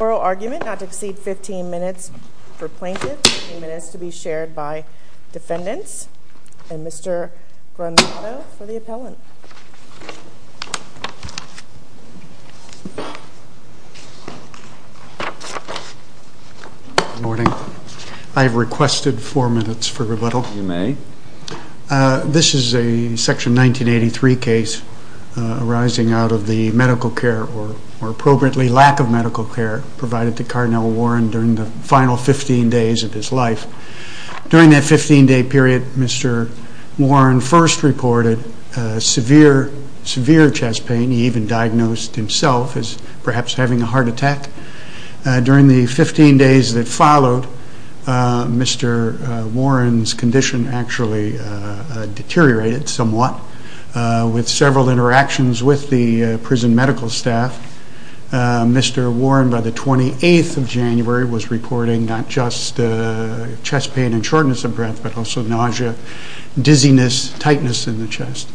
Oral argument not to exceed 15 minutes for plaintiff, 15 minutes to be shared by defendants. And Mr. Gronvato for the appellant. Good morning. I have requested four minutes for rebuttal. You may. This is a Section 1983 case arising out of the medical care, or appropriately lack of medical care, provided to Cardinal Warren during the final 15 days of his life. During that 15-day period, Mr. Warren first reported severe chest pain. He even diagnosed himself as perhaps having a heart attack. During the 15 days that followed, Mr. Warren's condition actually deteriorated somewhat. With several interactions with the prison medical staff, Mr. Warren, by the 28th of January, was reporting not just chest pain and shortness of breath, but also nausea, dizziness, tightness in the chest.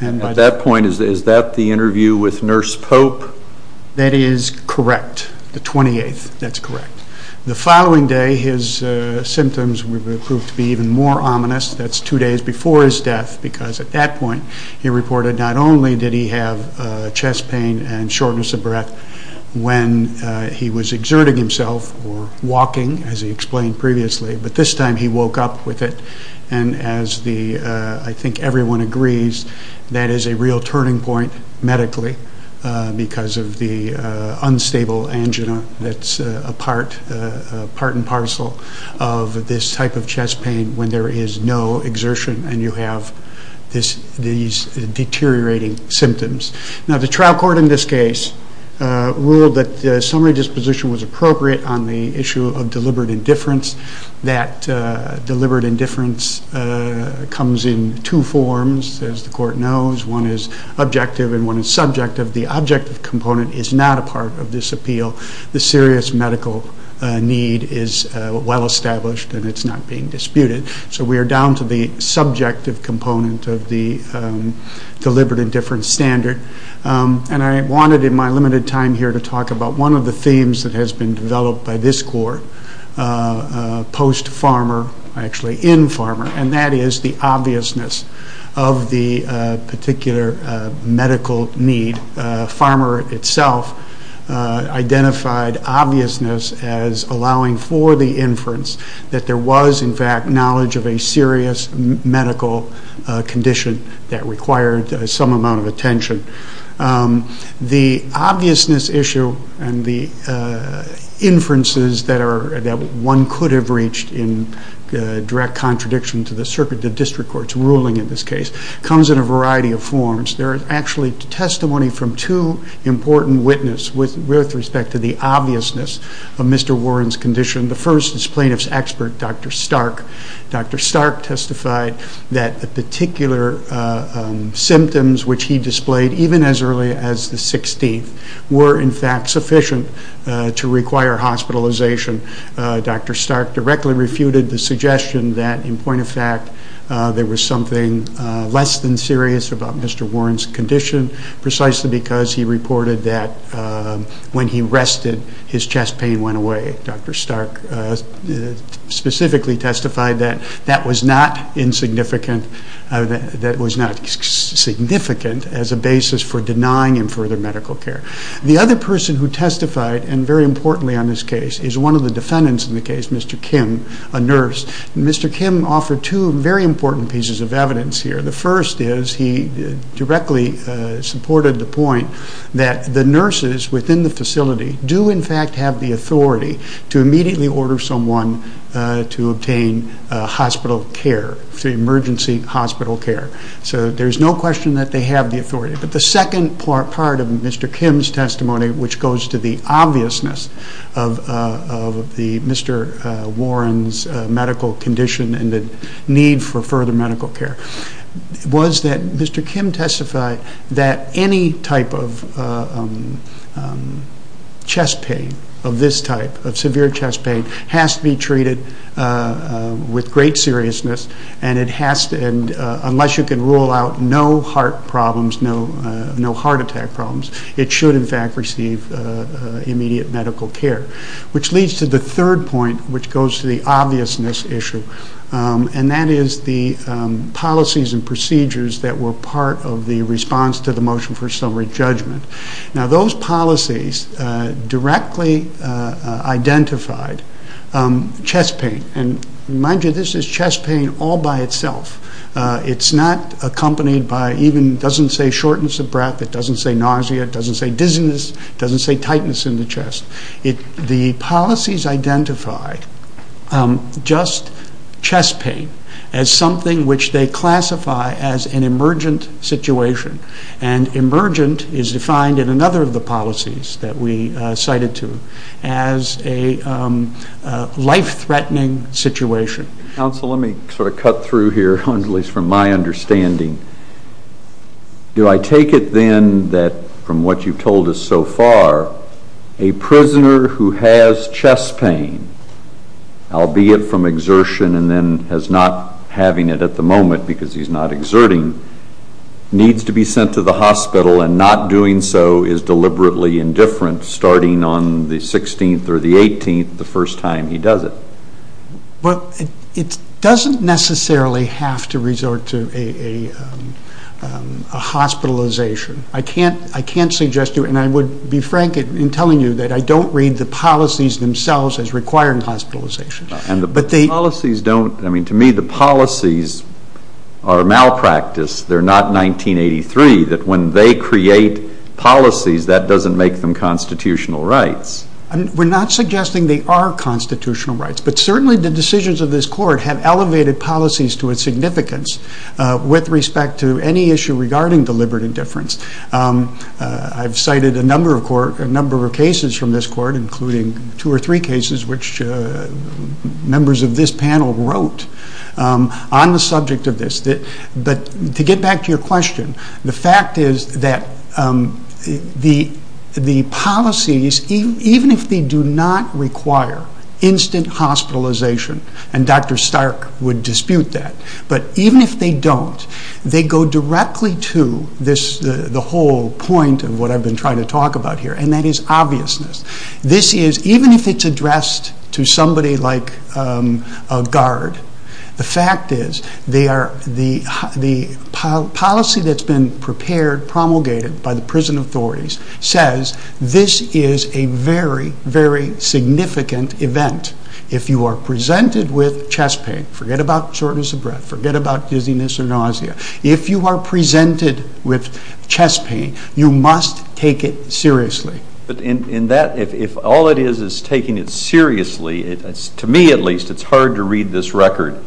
At that point, is that the interview with Nurse Pope? That is correct. The 28th. That's correct. The following day, his symptoms would prove to be even more ominous. That's two days before his death, because at that point he reported not only did he have chest pain and shortness of breath when he was exerting himself or walking, as he explained previously, but this time he woke up with it. As I think everyone agrees, that is a real turning point medically, because of the unstable angina that's a part and parcel of this type of chest pain when there is no exertion and you have these deteriorating symptoms. The trial court in this case ruled that the summary disposition was appropriate on the issue of deliberate indifference. That deliberate indifference comes in two forms, as the court knows. One is objective and one is subjective. The objective component is not a part of this appeal. The serious medical need is well established and it's not being disputed. So we are down to the subjective component of the deliberate indifference standard. I wanted in my limited time here to talk about one of the themes that has been developed by this court post-Farmer, actually in Farmer, and that is the obviousness of the particular medical need. Farmer itself identified obviousness as allowing for the inference that there was in fact knowledge of a serious medical condition that required some amount of attention. The obviousness issue and the inferences that one could have reached in direct contradiction to the circuit of district court's ruling in this case comes in a variety of forms. There is actually testimony from two important witnesses with respect to the obviousness of Mr. Warren's condition. The first is plaintiff's expert, Dr. Stark. Dr. Stark testified that the particular symptoms which he displayed even as early as the 16th were in fact sufficient to require hospitalization. Dr. Stark directly refuted the suggestion that in point of fact there was something less than serious about Mr. Warren's condition precisely because he reported that when he rested his chest pain went away. Dr. Stark specifically testified that that was not insignificant, that it was not significant as a basis for denying him further medical care. The other person who testified, and very importantly on this case, is one of the defendants in the case, Mr. Kim, a nurse. Mr. Kim offered two very important pieces of evidence here. The first is he directly supported the point that the nurses within the facility do in fact have the authority to immediately order someone to obtain hospital care, emergency hospital care. So there's no question that they have the authority. But the second part of Mr. Kim's testimony, which goes to the obviousness of Mr. Warren's medical condition and the need for further medical care, was that Mr. Kim testified that any type of chest pain of this type, of severe chest pain, has to be treated with great seriousness and unless you can rule out no heart problems, no heart attack problems, it should in fact receive immediate medical care. Which leads to the third point, which goes to the obviousness issue, and that is the policies and procedures that were part of the response to the motion for summary judgment. Now those policies directly identified chest pain, and mind you, this is chest pain all by itself. It's not accompanied by even, it doesn't say shortness of breath, it doesn't say nausea, it doesn't say dizziness, it doesn't say tightness in the chest. The policies identify just chest pain as something which they classify as an emergent situation, and emergent is defined in another of the policies that we cited to as a life-threatening situation. Counsel, let me sort of cut through here, at least from my understanding. Do I take it then that, from what you've told us so far, a prisoner who has chest pain, albeit from exertion and then has not having it at the moment because he's not exerting, needs to be sent to the hospital and not doing so is deliberately indifferent, starting on the 16th or the 18th, the first time he does it? Well, it doesn't necessarily have to resort to a hospitalization. I can't suggest to you, and I would be frank in telling you, that I don't read the policies themselves as requiring hospitalization. And the policies don't, I mean, to me the policies are malpractice, they're not 1983, that when they create policies, that doesn't make them constitutional rights. We're not suggesting they are constitutional rights, but certainly the decisions of this Court have elevated policies to its significance with respect to any issue regarding deliberate indifference. I've cited a number of cases from this Court, including two or three cases, which members of this panel wrote on the subject of this. But to get back to your question, the fact is that the policies, even if they do not require instant hospitalization, and Dr. Stark would dispute that, but even if they don't, they go directly to the whole point of what I've been trying to talk about here, and that is obviousness. This is, even if it's addressed to somebody like a guard, the fact is the policy that's been prepared, promulgated by the prison authorities, says this is a very, very significant event. If you are presented with chest pain, forget about shortness of breath, forget about dizziness or nausea, if you are presented with chest pain, you must take it seriously. But in that, if all it is is taking it seriously, to me at least, it's hard to read this record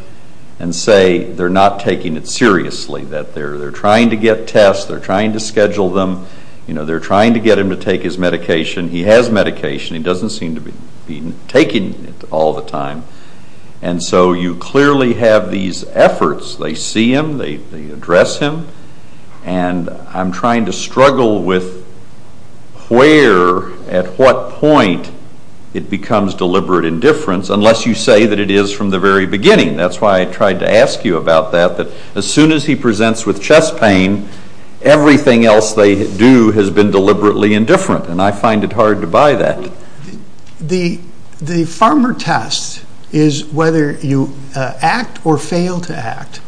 and say they're not taking it seriously, that they're trying to get tests, they're trying to schedule them, they're trying to get him to take his medication. He has medication. He doesn't seem to be taking it all the time. And so you clearly have these efforts. They see him, they address him, and I'm trying to struggle with where, at what point it becomes deliberate indifference, unless you say that it is from the very beginning. That's why I tried to ask you about that, that as soon as he presents with chest pain, everything else they do has been deliberately indifferent, and I find it hard to buy that. The farmer test is whether you act or fail to act,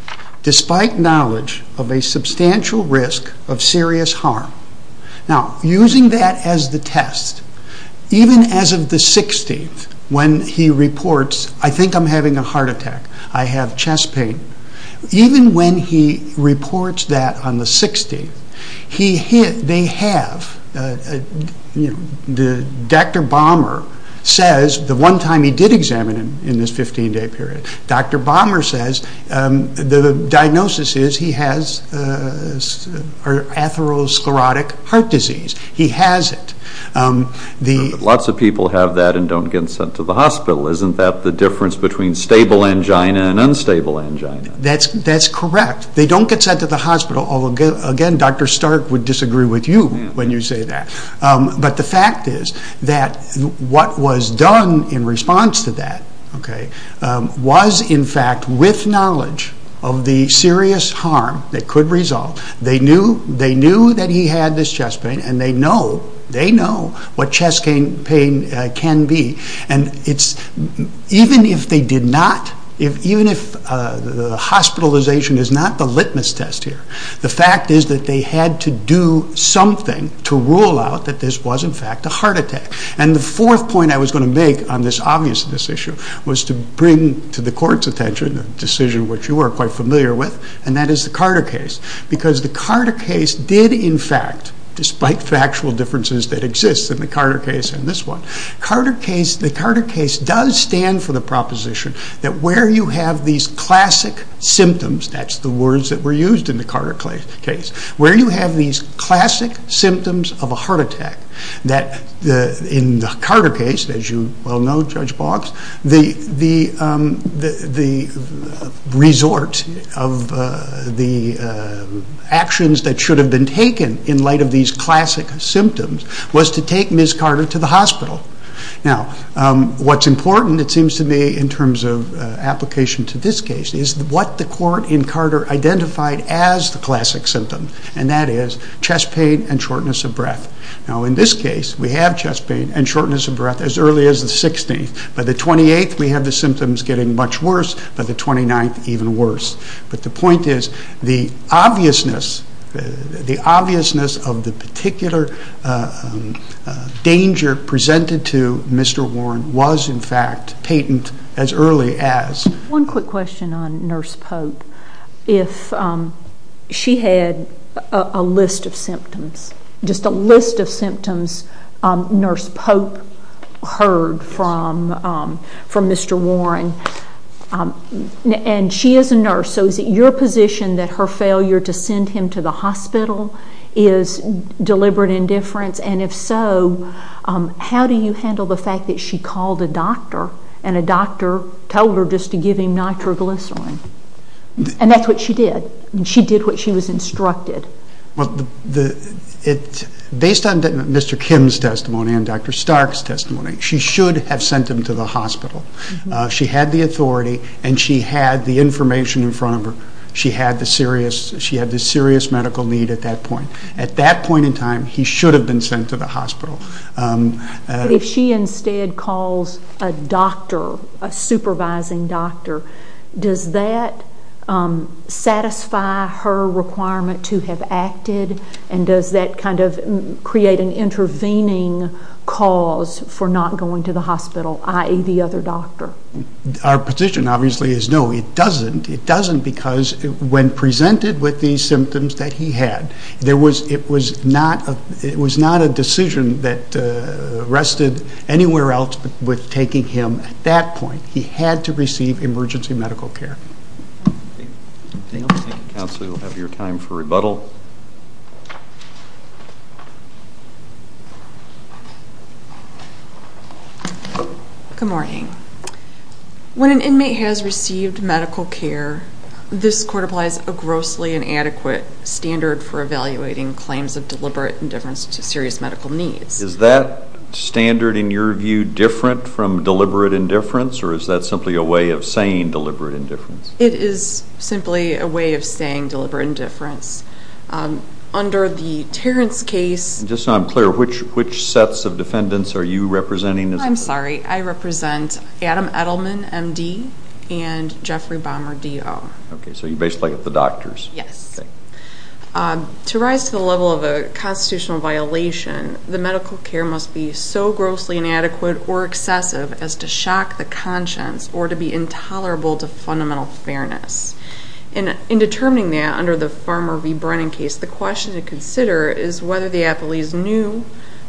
despite knowledge of a substantial risk of serious harm. Now, using that as the test, even as of the 16th, when he reports, I think I'm having a heart attack, I have chest pain, even when he reports that on the 16th, they have, Dr. Balmer says, the one time he did examine him in this 15-day period, Dr. Balmer says the diagnosis is he has atherosclerotic heart disease. He has it. Lots of people have that and don't get sent to the hospital. Isn't that the difference between stable angina and unstable angina? That's correct. They don't get sent to the hospital. Again, Dr. Stark would disagree with you when you say that. But the fact is that what was done in response to that was, in fact, with knowledge of the serious harm that could result, they knew that he had this chest pain, and they know what chest pain can be. Even if the hospitalization is not the litmus test here, the fact is that they had to do something to rule out that this was, in fact, a heart attack. The fourth point I was going to make on this obvious issue was to bring to the court's attention a decision which you are quite familiar with, and that is the Carter case. Because the Carter case did, in fact, despite factual differences that exist in the Carter case and this one, the Carter case does stand for the proposition that where you have these classic symptoms, that's the words that were used in the Carter case, where you have these classic symptoms of a heart attack, that in the Carter case, as you well know, Judge Boggs, the resort of the actions that should have been taken in light of these classic symptoms was to take Ms. Carter to the hospital. Now, what's important, it seems to me, in terms of application to this case, is what the court in Carter identified as the classic symptom, and that is chest pain and shortness of breath. Now, in this case, we have chest pain and shortness of breath as early as the 16th. By the 28th, we have the symptoms getting much worse, by the 29th, even worse. But the point is, the obviousness of the particular danger presented to Mr. Warren was, in fact, patent as early as... One quick question on Nurse Pope. If she had a list of symptoms, just a list of symptoms Nurse Pope heard from Mr. Warren, and she is a nurse, so is it your position that her failure to send him to the hospital is deliberate indifference? And if so, how do you handle the fact that she called a doctor and a doctor told her just to give him nitroglycerin? And that's what she did. She did what she was instructed. Based on Mr. Kim's testimony and Dr. Stark's testimony, she should have sent him to the hospital. She had the authority, and she had the information in front of her. She had the serious medical need at that point. At that point in time, he should have been sent to the hospital. If she instead calls a doctor, a supervising doctor, does that satisfy her requirement to have acted, and does that kind of create an intervening cause for not going to the hospital, i.e., the other doctor? Our position, obviously, is no, it doesn't. It doesn't because when presented with these symptoms that he had, it was not a decision that rested anywhere else but with taking him at that point. He had to receive emergency medical care. Thank you, counsel. We'll have your time for rebuttal. Good morning. When an inmate has received medical care, this court applies a grossly inadequate standard for evaluating claims of deliberate indifference to serious medical needs. Is that standard, in your view, different from deliberate indifference, or is that simply a way of saying deliberate indifference? It is simply a way of saying deliberate indifference. Under the Terrence case, Just so I'm clear, which sets of defendants are you representing? I'm sorry, I represent Adam Edelman, M.D., and Jeffrey Baumer, D.O. Okay, so you basically get the doctors. Yes. To rise to the level of a constitutional violation, the medical care must be so grossly inadequate or excessive as to shock the conscience or to be intolerable to fundamental fairness. In determining that under the Farmer v. Brennan case, the question to consider is whether the appellees knew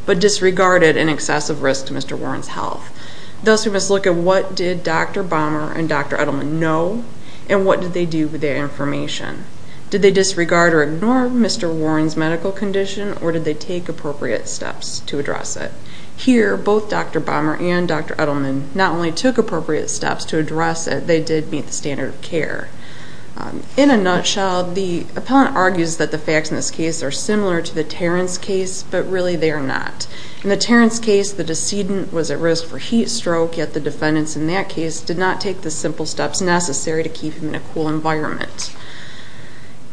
but disregarded an excessive risk to Mr. Warren's health. Thus, we must look at what did Dr. Baumer and Dr. Edelman know and what did they do with their information. Did they disregard or ignore Mr. Warren's medical condition, or did they take appropriate steps to address it? Here, both Dr. Baumer and Dr. Edelman not only took appropriate steps to address it, they did meet the standard of care. In a nutshell, the appellant argues that the facts in this case are similar to the Terrence case, but really they are not. In the Terrence case, the decedent was at risk for heat stroke, yet the defendants in that case did not take the simple steps necessary to keep him in a cool environment.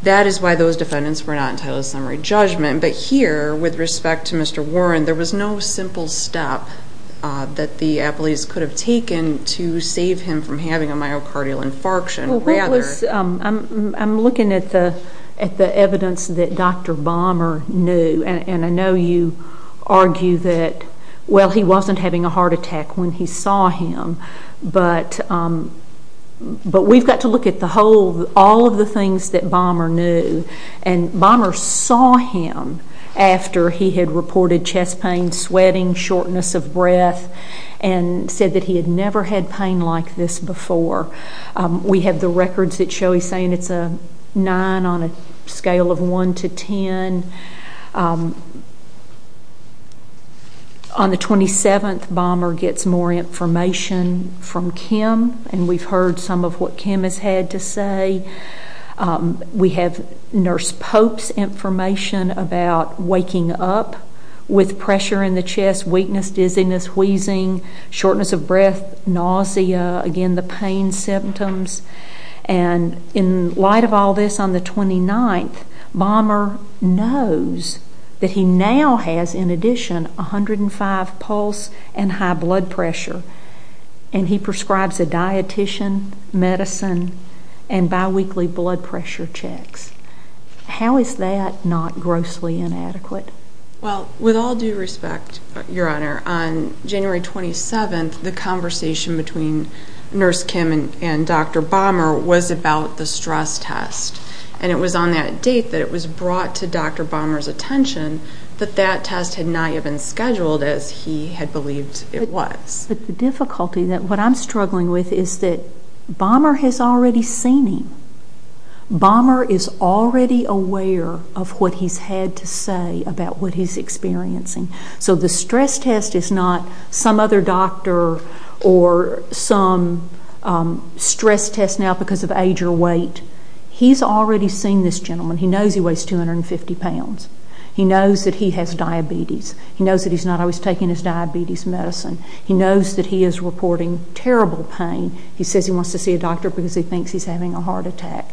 That is why those defendants were not entitled to summary judgment. But here, with respect to Mr. Warren, there was no simple step that the appellees could have taken to save him from having a myocardial infarction. I'm looking at the evidence that Dr. Baumer knew, and I know you argue that he wasn't having a heart attack when he saw him, but we've got to look at all of the things that Baumer knew. Baumer saw him after he had reported chest pain, sweating, shortness of breath, and said that he had never had pain like this before. We have the records that show he's saying it's a 9 on a scale of 1 to 10. On the 27th, Baumer gets more information from Kim, and we've heard some of what Kim has had to say. We have Nurse Pope's information about waking up with pressure in the chest, weakness, dizziness, wheezing, shortness of breath, nausea, again, the pain symptoms. And in light of all this, on the 29th, Baumer knows that he now has, in addition, 105 pulse and high blood pressure, and he prescribes a dietician, medicine, and biweekly blood pressure checks. How is that not grossly inadequate? With all due respect, Your Honor, on January 27th, the conversation between Nurse Kim and Dr. Baumer was about the stress test, and it was on that date that it was brought to Dr. Baumer's attention that that test had not yet been scheduled as he had believed it was. But the difficulty that what I'm struggling with is that Baumer has already seen him. Baumer is already aware of what he's had to say about what he's experiencing. So the stress test is not some other doctor or some stress test now because of age or weight. He's already seen this gentleman. He knows he weighs 250 pounds. He knows that he has diabetes. He knows that he's not always taking his diabetes medicine. He knows that he is reporting terrible pain. He says he wants to see a doctor because he thinks he's having a heart attack.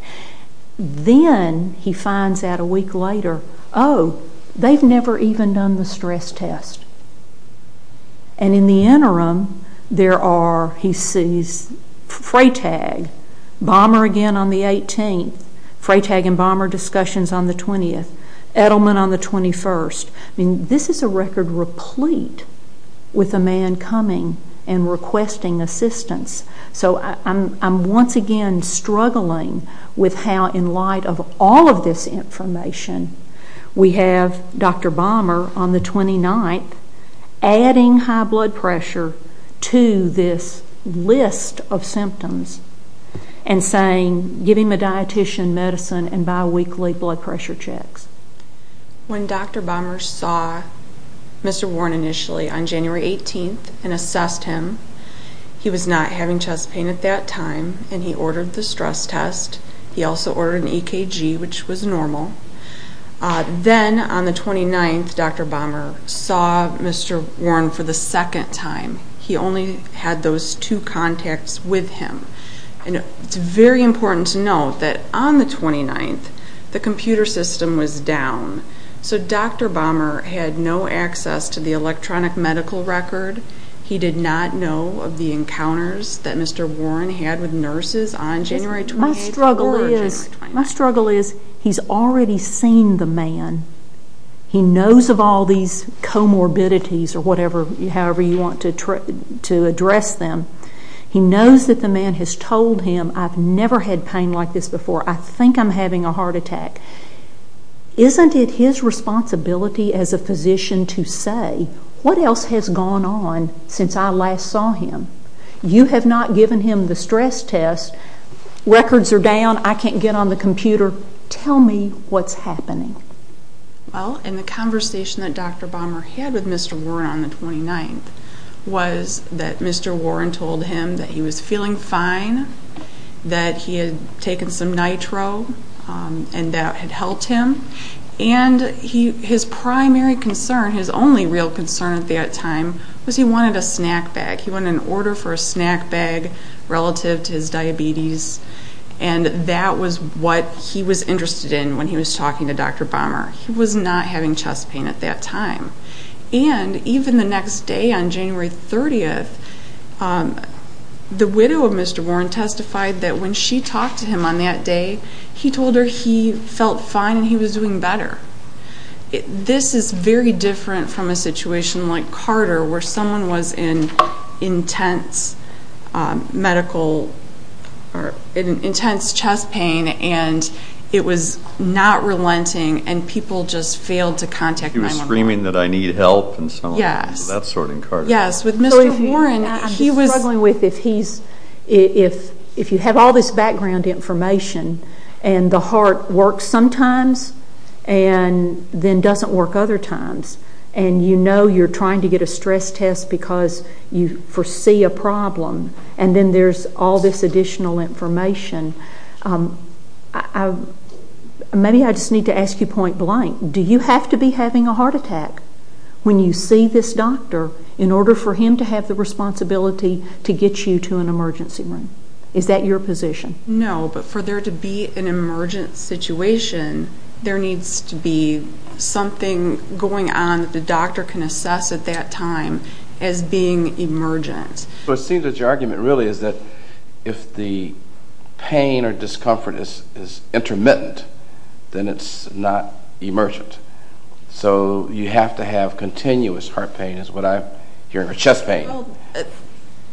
Then he finds out a week later, oh, they've never even done the stress test. And in the interim, there are, he sees Freytag, Baumer again on the 18th. Freytag and Baumer discussions on the 20th. Edelman on the 21st. This is a record replete with a man coming and requesting assistance. So I'm once again struggling with how, in light of all of this information, we have Dr. Baumer on the 29th adding high blood pressure to this list of symptoms and saying give him a dietician, medicine, and biweekly blood pressure checks. When Dr. Baumer saw Mr. Warren initially on January 18th and assessed him, he was not having chest pain at that time, and he ordered the stress test. He also ordered an EKG, which was normal. Then on the 29th, Dr. Baumer saw Mr. Warren for the second time. He only had those two contacts with him. And it's very important to note that on the 29th, the computer system was down. So Dr. Baumer had no access to the electronic medical record. He did not know of the encounters that Mr. Warren had with nurses on January 28th or January 29th. My struggle is he's already seen the man. He knows of all these comorbidities or whatever, however you want to address them. He knows that the man has told him, I've never had pain like this before. I think I'm having a heart attack. Isn't it his responsibility as a physician to say, what else has gone on since I last saw him? You have not given him the stress test. Records are down. I can't get on the computer. Tell me what's happening. Well, in the conversation that Dr. Baumer had with Mr. Warren on the 29th was that Mr. Warren told him that he was feeling fine, that he had taken some nitro, and that it had helped him. And his primary concern, his only real concern at that time, was he wanted a snack bag. He wanted an order for a snack bag relative to his diabetes. And that was what he was interested in when he was talking to Dr. Baumer. He was not having chest pain at that time. And even the next day, on January 30th, the widow of Mr. Warren testified that when she talked to him on that day, he told her he felt fine and he was doing better. This is very different from a situation like Carter, where someone was in intense medical or intense chest pain and it was not relenting and people just failed to contact my mom. He was screaming that I need help and so on. Yes. That's sort of in Carter. Yes, with Mr. Warren, he was struggling with if he's – if you have all this background information and the heart works sometimes and then doesn't work other times and you know you're trying to get a stress test because you foresee a problem and then there's all this additional information. Maybe I just need to ask you point blank. Do you have to be having a heart attack when you see this doctor in order for him to have the responsibility to get you to an emergency room? Is that your position? No, but for there to be an emergent situation, there needs to be something going on that the doctor can assess at that time as being emergent. It seems that your argument really is that if the pain or discomfort is intermittent, then it's not emergent. So you have to have continuous heart pain is what I'm hearing, or chest pain,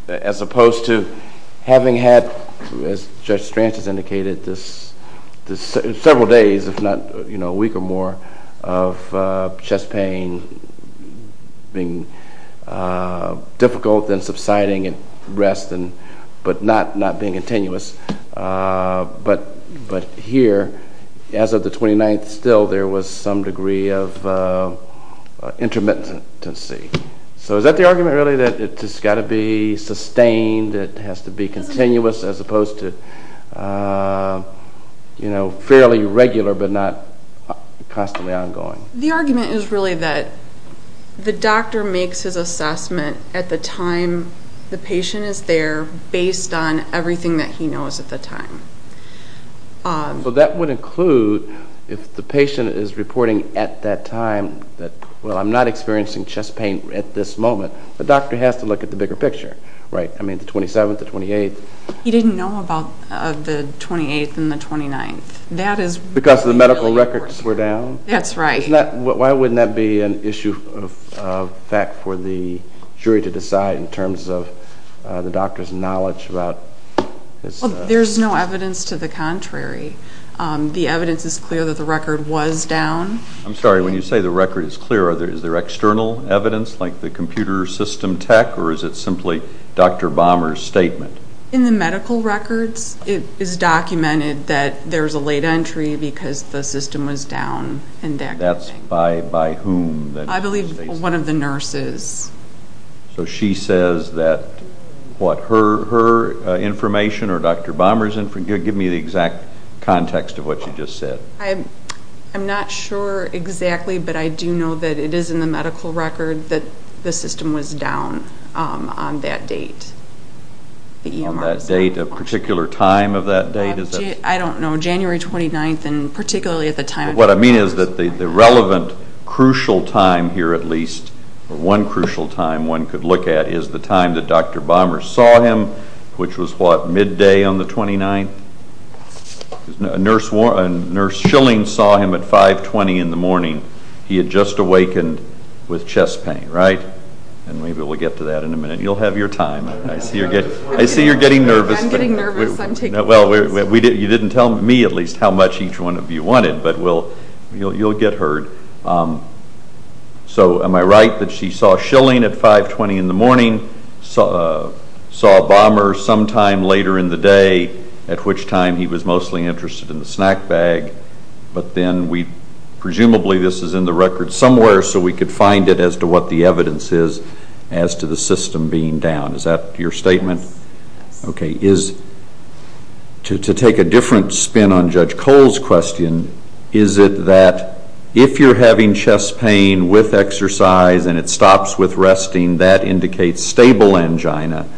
as opposed to having had, as Judge Strantz has indicated, several days, if not a week or more, of chest pain being difficult and subsiding and rest but not being continuous. But here, as of the 29th, still there was some degree of intermittency. So is that the argument really, that it's got to be sustained, it has to be continuous as opposed to fairly regular but not constantly ongoing? The argument is really that the doctor makes his assessment at the time the patient is there based on everything that he knows at the time. So that would include if the patient is reporting at that time that, well, I'm not experiencing chest pain at this moment, the doctor has to look at the bigger picture, right? I mean, the 27th, the 28th. He didn't know about the 28th and the 29th. Because the medical records were down? That's right. Why wouldn't that be an issue of fact for the jury to decide in terms of the doctor's knowledge about this? There's no evidence to the contrary. The evidence is clear that the record was down. I'm sorry, when you say the record is clear, is there external evidence like the computer system tech or is it simply Dr. Bomer's statement? In the medical records it is documented that there's a late entry because the system was down. That's by whom? I believe one of the nurses. So she says that her information or Dr. Bomer's information, give me the exact context of what you just said. I'm not sure exactly, but I do know that it is in the medical record that the system was down on that date. On that date, a particular time of that date? I don't know, January 29th and particularly at the time. What I mean is that the relevant crucial time here at least, or one crucial time one could look at, is the time that Dr. Bomer saw him, which was what, midday on the 29th? Nurse Schilling saw him at 5.20 in the morning. He had just awakened with chest pain, right? And maybe we'll get to that in a minute. You'll have your time. I see you're getting nervous. I'm getting nervous. I'm taking notes. You didn't tell me at least how much each one of you wanted, but you'll get heard. So am I right that she saw Schilling at 5.20 in the morning, saw Bomer sometime later in the day, at which time he was mostly interested in the snack bag, but then presumably this is in the record somewhere so we could find it as to what the evidence is as to the system being down. Is that your statement? Yes. Okay. To take a different spin on Judge Cole's question, is it that if you're having chest pain with exercise and it stops with resting, that indicates stable angina?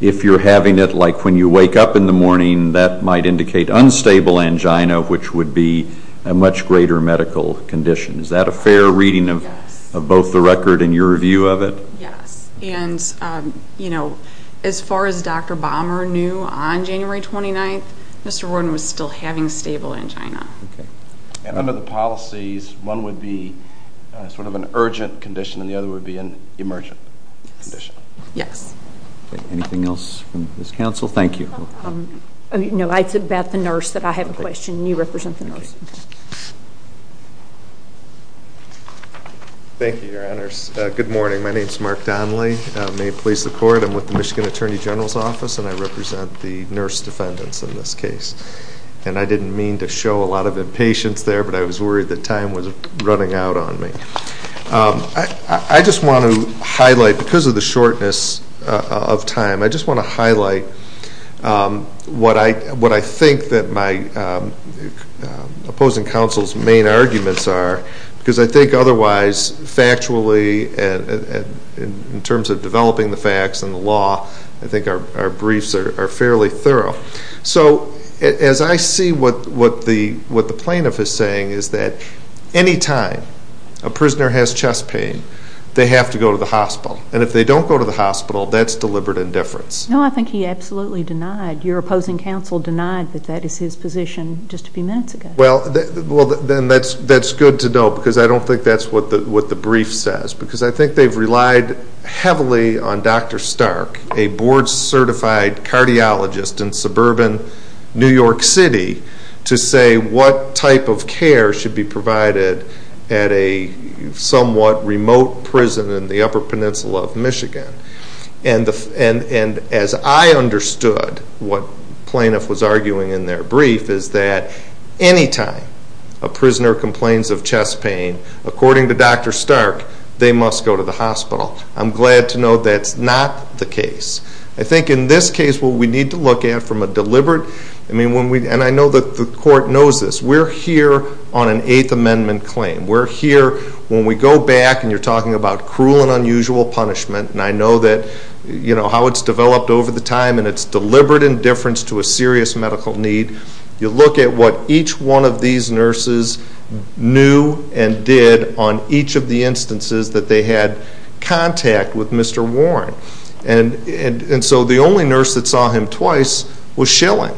If you're having it like when you wake up in the morning, that might indicate unstable angina, which would be a much greater medical condition. Is that a fair reading of both the record and your view of it? Yes. And, you know, as far as Dr. Bomer knew on January 29th, Mr. Roden was still having stable angina. And under the policies, one would be sort of an urgent condition and the other would be an emergent condition. Yes. Anything else from this counsel? Thank you. No, it's about the nurse that I have a question. You represent the nurse. Okay. Thank you, Your Honors. Good morning. My name is Mark Donley. May it please the Court. I'm with the Michigan Attorney General's Office and I represent the nurse defendants in this case. And I didn't mean to show a lot of impatience there, but I was worried that time was running out on me. I just want to highlight, because of the shortness of time, I just want to highlight what I think that my opposing counsel's main arguments are, because I think otherwise, factually, in terms of developing the facts and the law, I think our briefs are fairly thorough. So as I see what the plaintiff is saying is that any time a prisoner has chest pain, they have to go to the hospital. And if they don't go to the hospital, that's deliberate indifference. No, I think he absolutely denied. Your opposing counsel denied that that is his position just a few minutes ago. Well, then that's good to know because I don't think that's what the brief says, because I think they've relied heavily on Dr. Stark, a board-certified cardiologist in suburban New York City, to say what type of care should be provided at a somewhat remote prison in the Upper Peninsula of Michigan. And as I understood what the plaintiff was arguing in their brief is that any time a prisoner complains of chest pain, according to Dr. Stark, they must go to the hospital. I'm glad to know that's not the case. I think in this case what we need to look at from a deliberate, and I know that the court knows this, we're here on an Eighth Amendment claim. We're here when we go back, and you're talking about cruel and unusual punishment, and I know how it's developed over the time, and it's deliberate indifference to a serious medical need. You look at what each one of these nurses knew and did on each of the instances that they had contact with Mr. Warren. And so the only nurse that saw him twice was Schilling,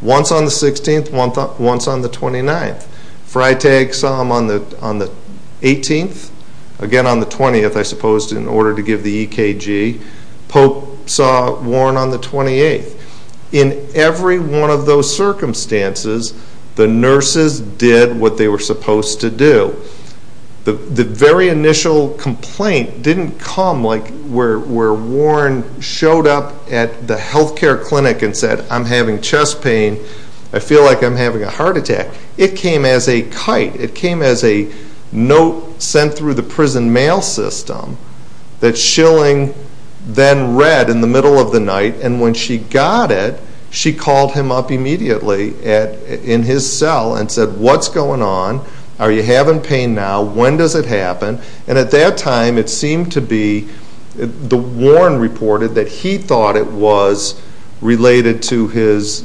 once on the 16th, once on the 29th. Freitag saw him on the 18th, again on the 20th, I suppose, in order to give the EKG. Pope saw Warren on the 28th. In every one of those circumstances, the nurses did what they were supposed to do. The very initial complaint didn't come where Warren showed up at the health care clinic and said, I'm having chest pain, I feel like I'm having a heart attack. It came as a kite. It came as a note sent through the prison mail system that Schilling then read in the middle of the night, and when she got it, she called him up immediately in his cell and said, What's going on? Are you having pain now? When does it happen? And at that time it seemed to be, the Warren reported, that he thought it was related to his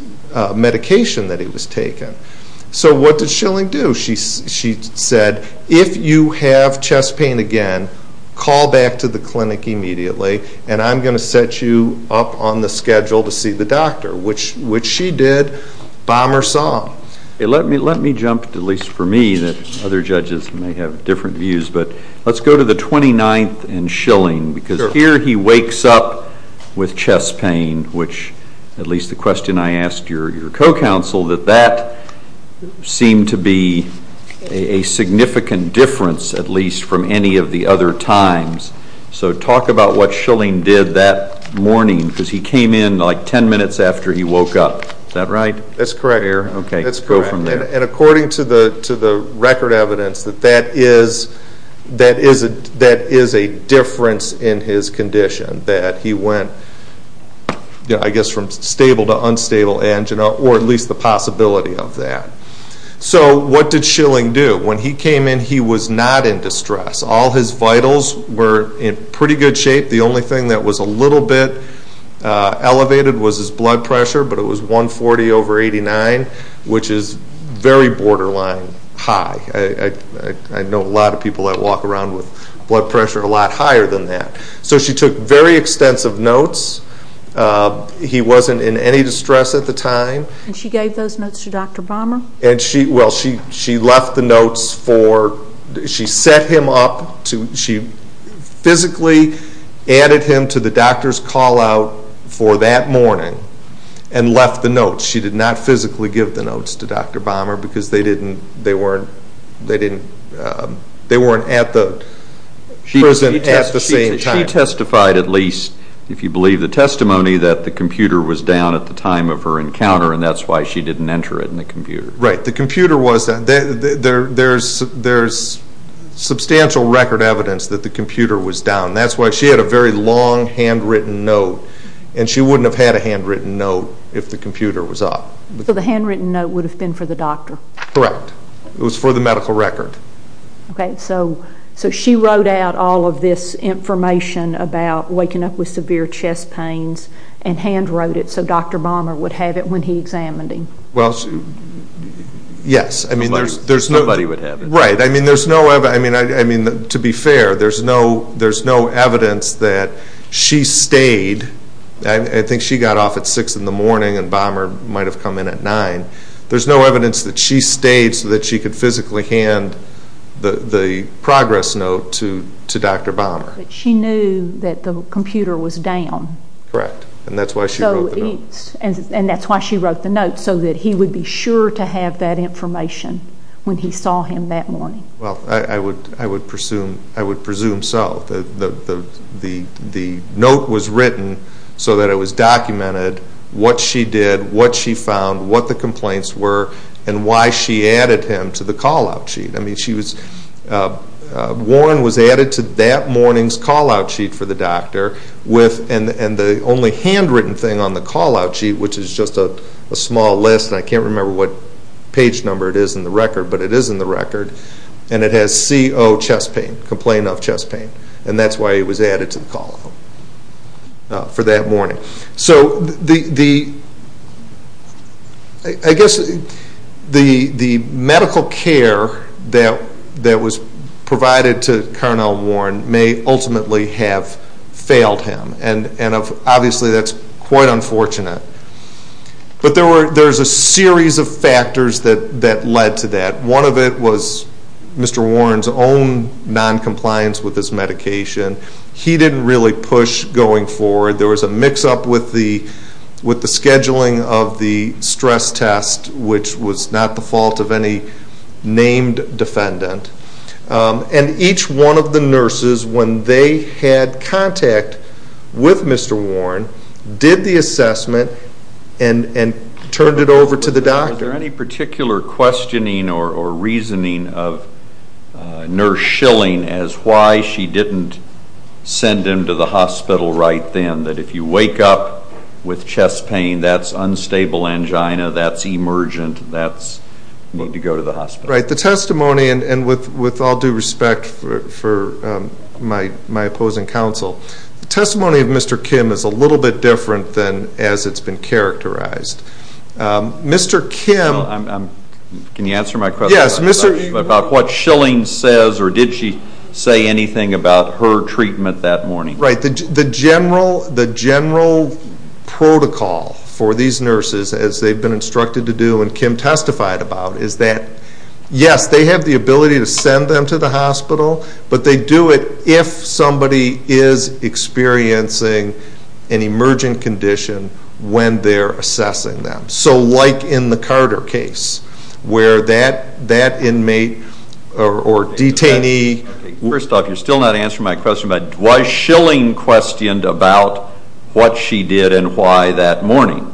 medication that he was taking. So what did Schilling do? She said, If you have chest pain again, call back to the clinic immediately, and I'm going to set you up on the schedule to see the doctor, which she did. Bomber saw him. Let me jump, at least for me, that other judges may have different views, but let's go to the 29th and Schilling, because here he wakes up with chest pain, which, at least the question I asked your co-counsel, that that seemed to be a significant difference, at least from any of the other times. So talk about what Schilling did that morning, because he came in like ten minutes after he woke up. Is that right? That's correct. And according to the record evidence, that is a difference in his condition, that he went from stable to unstable, or at least the possibility of that. So what did Schilling do? When he came in, he was not in distress. All his vitals were in pretty good shape. The only thing that was a little bit elevated was his blood pressure, but it was 140 over 89, which is very borderline high. I know a lot of people that walk around with blood pressure a lot higher than that. So she took very extensive notes. He wasn't in any distress at the time. And she gave those notes to Dr. Bomber? Well, she left the notes for, she set him up, she physically added him to the doctor's call out for that morning and left the notes. She did not physically give the notes to Dr. Bomber because they weren't at the prison at the same time. She testified at least, if you believe the testimony, that the computer was down at the time of her encounter, and that's why she didn't enter it in the computer. Right, the computer was down. There's substantial record evidence that the computer was down. That's why she had a very long handwritten note, and she wouldn't have had a handwritten note if the computer was up. So the handwritten note would have been for the doctor? Correct. It was for the medical record. Okay, so she wrote out all of this information about waking up with severe chest pains and hand wrote it so Dr. Bomber would have it when he examined him. Well, yes. Somebody would have it. Right. I mean, to be fair, there's no evidence that she stayed. I think she got off at 6 in the morning and Bomber might have come in at 9. There's no evidence that she stayed so that she could physically hand the progress note to Dr. Bomber. But she knew that the computer was down. Correct, and that's why she wrote the note. And that's why she wrote the note, so that he would be sure to have that information when he saw him that morning. Well, I would presume so. The note was written so that it was documented what she did, what she found, what the complaints were, and why she added him to the call-out sheet. I mean, Warren was added to that morning's call-out sheet for the doctor, and the only handwritten thing on the call-out sheet, which is just a small list, and I can't remember what page number it is in the record, but it is in the record, and it has CO chest pain, complaint of chest pain. And that's why he was added to the call-out for that morning. So I guess the medical care that was provided to Cornell Warren may ultimately have failed him, and obviously that's quite unfortunate. But there's a series of factors that led to that. One of it was Mr. Warren's own noncompliance with his medication. He didn't really push going forward. There was a mix-up with the scheduling of the stress test, which was not the fault of any named defendant. And each one of the nurses, when they had contact with Mr. Warren, did the assessment and turned it over to the doctor. Are there any particular questioning or reasoning of Nurse Schilling as why she didn't send him to the hospital right then, that if you wake up with chest pain, that's unstable angina, that's emergent, that's need to go to the hospital? Right. The testimony, and with all due respect for my opposing counsel, the testimony of Mr. Kim is a little bit different than as it's been characterized. Mr. Kim... Can you answer my question about what Schilling says or did she say anything about her treatment that morning? Right. The general protocol for these nurses, as they've been instructed to do and Kim testified about, is that yes, they have the ability to send them to the hospital, but they do it if somebody is experiencing an emergent condition when they're assessing them. So like in the Carter case where that inmate or detainee... First off, you're still not answering my question, but was Schilling questioned about what she did and why that morning?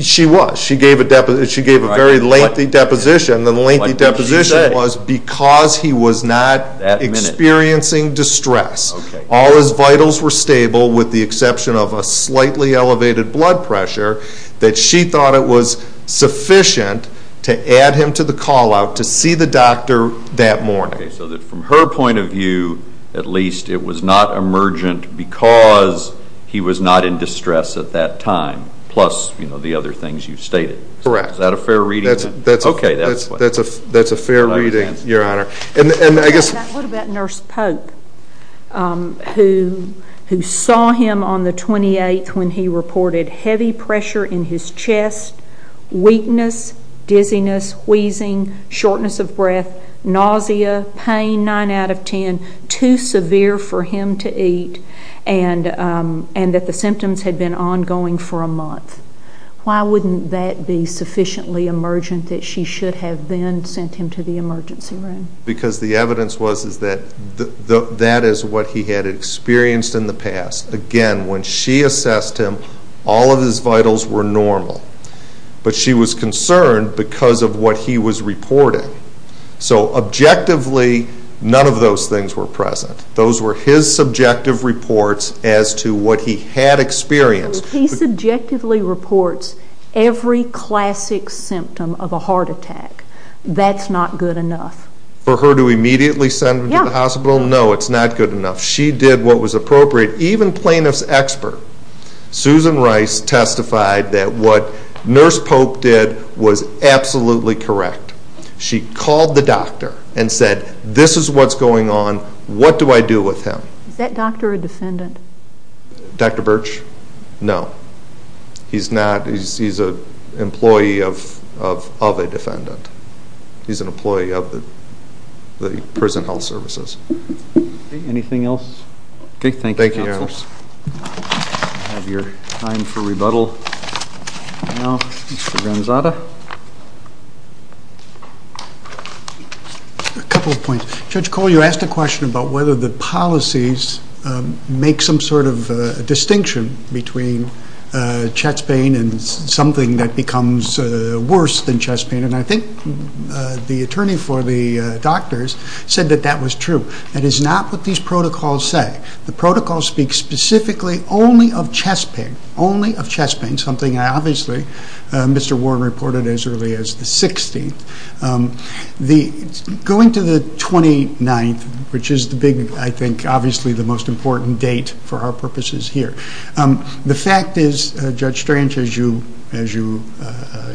She was. She gave a very lengthy deposition. The lengthy deposition was because he was not experiencing distress, all his vitals were stable with the exception of a slightly elevated blood pressure, that she thought it was sufficient to add him to the call-out to see the doctor that morning. So from her point of view, at least, it was not emergent because he was not in distress at that time, plus the other things you've stated. Correct. Is that a fair reading? That's a fair reading, Your Honor. What about Nurse Pope, who saw him on the 28th when he reported heavy pressure in his chest, weakness, dizziness, wheezing, shortness of breath, nausea, pain 9 out of 10, too severe for him to eat, and that the symptoms had been ongoing for a month? Why wouldn't that be sufficiently emergent that she should have then sent him to the emergency room? Because the evidence was that that is what he had experienced in the past. Again, when she assessed him, all of his vitals were normal, but she was concerned because of what he was reporting. So objectively, none of those things were present. Those were his subjective reports as to what he had experienced. He subjectively reports every classic symptom of a heart attack. That's not good enough. For her to immediately send him to the hospital? No, it's not good enough. She did what was appropriate. Even plaintiff's expert, Susan Rice, testified that what Nurse Pope did was absolutely correct. She called the doctor and said, this is what's going on. What do I do with him? Is that doctor a defendant? Dr. Birch? No. He's not. He's an employee of a defendant. He's an employee of the prison health services. Anything else? Okay, thank you, counsel. Thank you, Your Honor. I have your time for rebuttal now. Mr. Gonzata? A couple of points. Judge Cole, you asked a question about whether the policies make some sort of distinction between chest pain and something that becomes worse than chest pain, and I think the attorney for the doctors said that that was true. That is not what these protocols say. The protocols speak specifically only of chest pain, only of chest pain, something I obviously, Mr. Warren, reported as early as the 16th. Going to the 29th, which is the big, I think, obviously the most important date for our purposes here, the fact is, Judge Strange, as you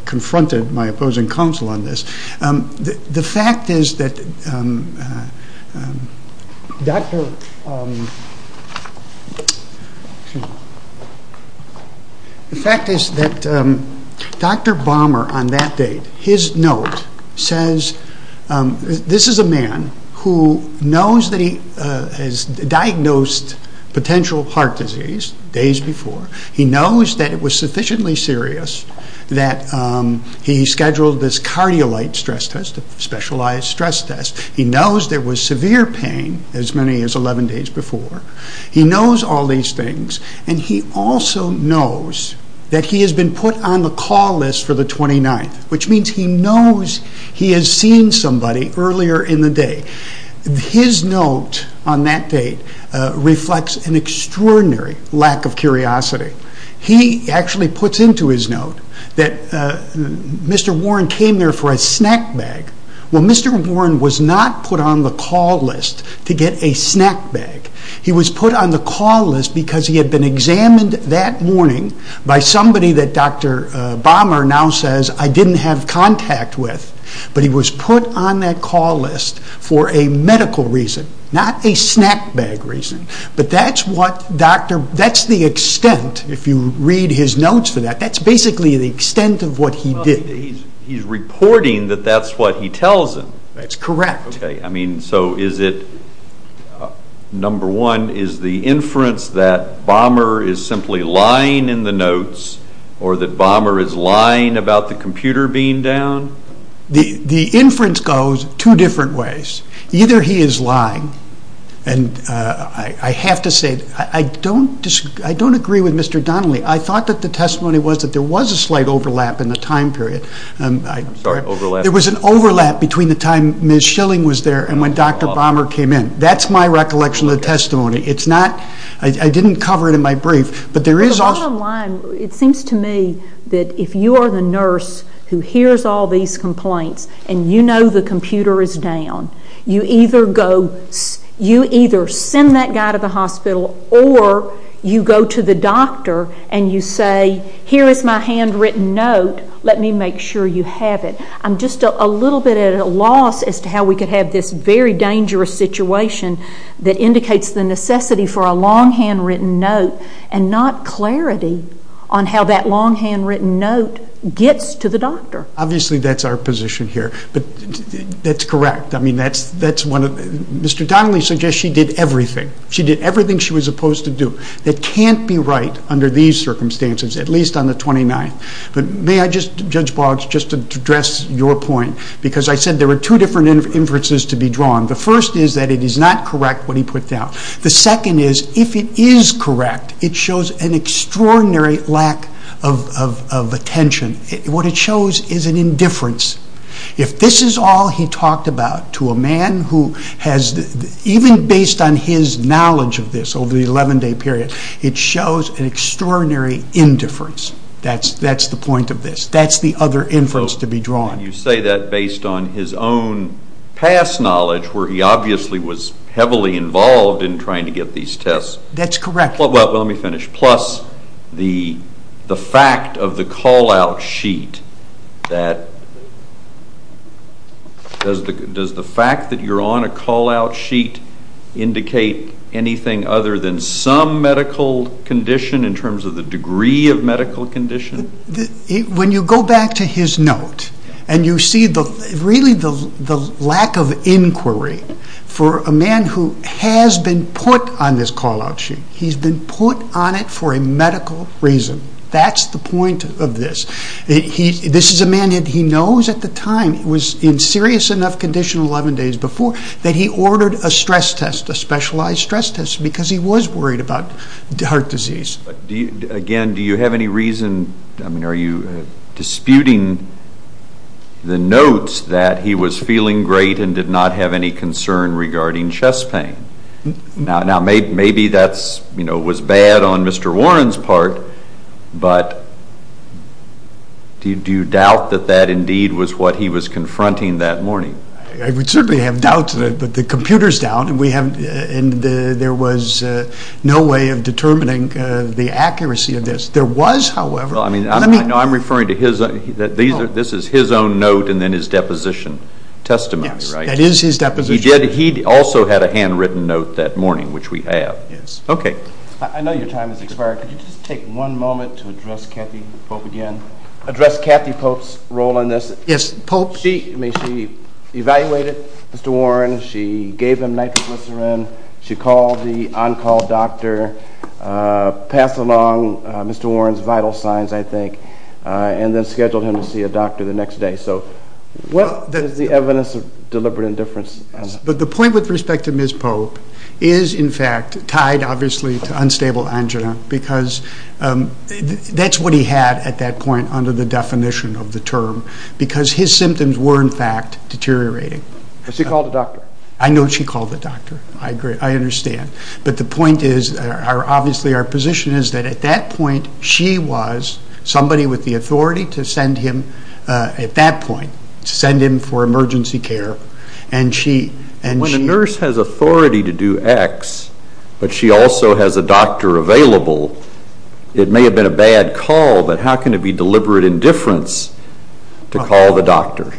confronted my opposing counsel on this, the fact is that Dr. Balmer, on that date, his note says, this is a man who knows that he has diagnosed potential heart disease days before. He knows that it was sufficiently serious that he scheduled this cardiolite stress test, a specialized stress test. He knows there was severe pain as many as 11 days before. He knows all these things, and he also knows that he has been put on the call list for the 29th, which means he knows he has seen somebody earlier in the day. His note on that date reflects an extraordinary lack of curiosity. He actually puts into his note that Mr. Warren came there for a snack bag. Well, Mr. Warren was not put on the call list to get a snack bag. He was put on the call list because he had been examined that morning by somebody that Dr. Balmer now says, I didn't have contact with. But he was put on that call list for a medical reason, not a snack bag reason. But that's the extent, if you read his notes for that, that's basically the extent of what he did. He's reporting that that's what he tells him. That's correct. Okay, I mean, so is it, number one, is the inference that Balmer is simply lying in the notes or that Balmer is lying about the computer being down? The inference goes two different ways. Either he is lying, and I have to say, I don't agree with Mr. Donnelly. I thought that the testimony was that there was a slight overlap in the time period. I'm sorry, overlap? There was an overlap between the time Ms. Schilling was there and when Dr. Balmer came in. That's my recollection of the testimony. It's not, I didn't cover it in my brief, but there is also I'm not lying. It seems to me that if you are the nurse who hears all these complaints and you know the computer is down, you either send that guy to the hospital or you go to the doctor and you say, here is my handwritten note. Let me make sure you have it. I'm just a little bit at a loss as to how we could have this very dangerous situation that indicates the necessity for a long handwritten note and not clarity on how that long handwritten note gets to the doctor. Obviously, that's our position here, but that's correct. Mr. Donnelly suggests she did everything. She did everything she was supposed to do. That can't be right under these circumstances, at least on the 29th. May I, Judge Boggs, just address your point? Because I said there were two different inferences to be drawn. The first is that it is not correct what he put down. The second is, if it is correct, it shows an extraordinary lack of attention. What it shows is an indifference. If this is all he talked about to a man who has, even based on his knowledge of this over the 11-day period, it shows an extraordinary indifference. That's the point of this. That's the other inference to be drawn. You say that based on his own past knowledge, where he obviously was heavily involved in trying to get these tests. That's correct. Let me finish. Plus the fact of the call-out sheet. Does the fact that you're on a call-out sheet indicate anything other than some medical condition in terms of the degree of medical condition? When you go back to his note, and you see really the lack of inquiry for a man who has been put on this call-out sheet. He's been put on it for a medical reason. That's the point of this. This is a man that he knows at the time was in serious enough condition 11 days before that he ordered a stress test, a specialized stress test, because he was worried about heart disease. Again, do you have any reason, are you disputing the notes that he was feeling great and did not have any concern regarding chest pain? Now, maybe that was bad on Mr. Warren's part, but do you doubt that that indeed was what he was confronting that morning? I would certainly have doubts, but the computer's down, and there was no way of determining the accuracy of this. There was, however. I'm referring to this is his own note and then his deposition testimony, right? Yes, that is his deposition. He also had a handwritten note that morning, which we have. Yes. Okay. I know your time has expired. Could you just take one moment to address Kathy Pope again, address Kathy Pope's role in this? Yes, Pope. Well, she evaluated Mr. Warren. She gave him nitroglycerin. She called the on-call doctor, passed along Mr. Warren's vital signs, I think, and then scheduled him to see a doctor the next day. So what is the evidence of deliberate indifference? The point with respect to Ms. Pope is, in fact, tied, obviously, to unstable angina because that's what he had at that point under the definition of the term because his symptoms were, in fact, deteriorating. But she called the doctor. I know she called the doctor. I understand. But the point is, obviously, our position is that at that point, she was somebody with the authority to send him, at that point, to send him for emergency care. When a nurse has authority to do X, but she also has a doctor available, it may have been a bad call, but how can it be deliberate indifference to call the doctor?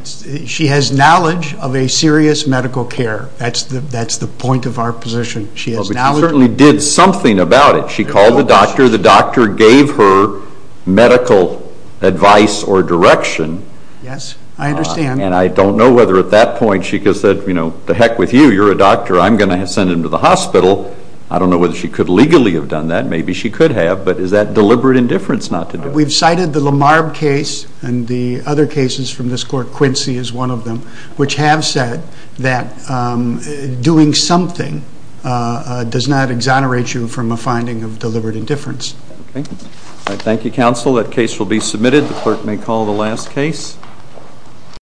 She has knowledge of a serious medical care. That's the point of our position. She has knowledge. But she certainly did something about it. She called the doctor. The doctor gave her medical advice or direction. Yes, I understand. And I don't know whether at that point she could have said, you know, to heck with you, you're a doctor, I'm going to send him to the hospital. I don't know whether she could legally have done that. Maybe she could have. But is that deliberate indifference not to do it? We've cited the Lamarbe case and the other cases from this court, Quincy is one of them, which have said that doing something does not exonerate you from a finding of deliberate indifference. Okay. Thank you, counsel. That case will be submitted. The clerk may call the last case.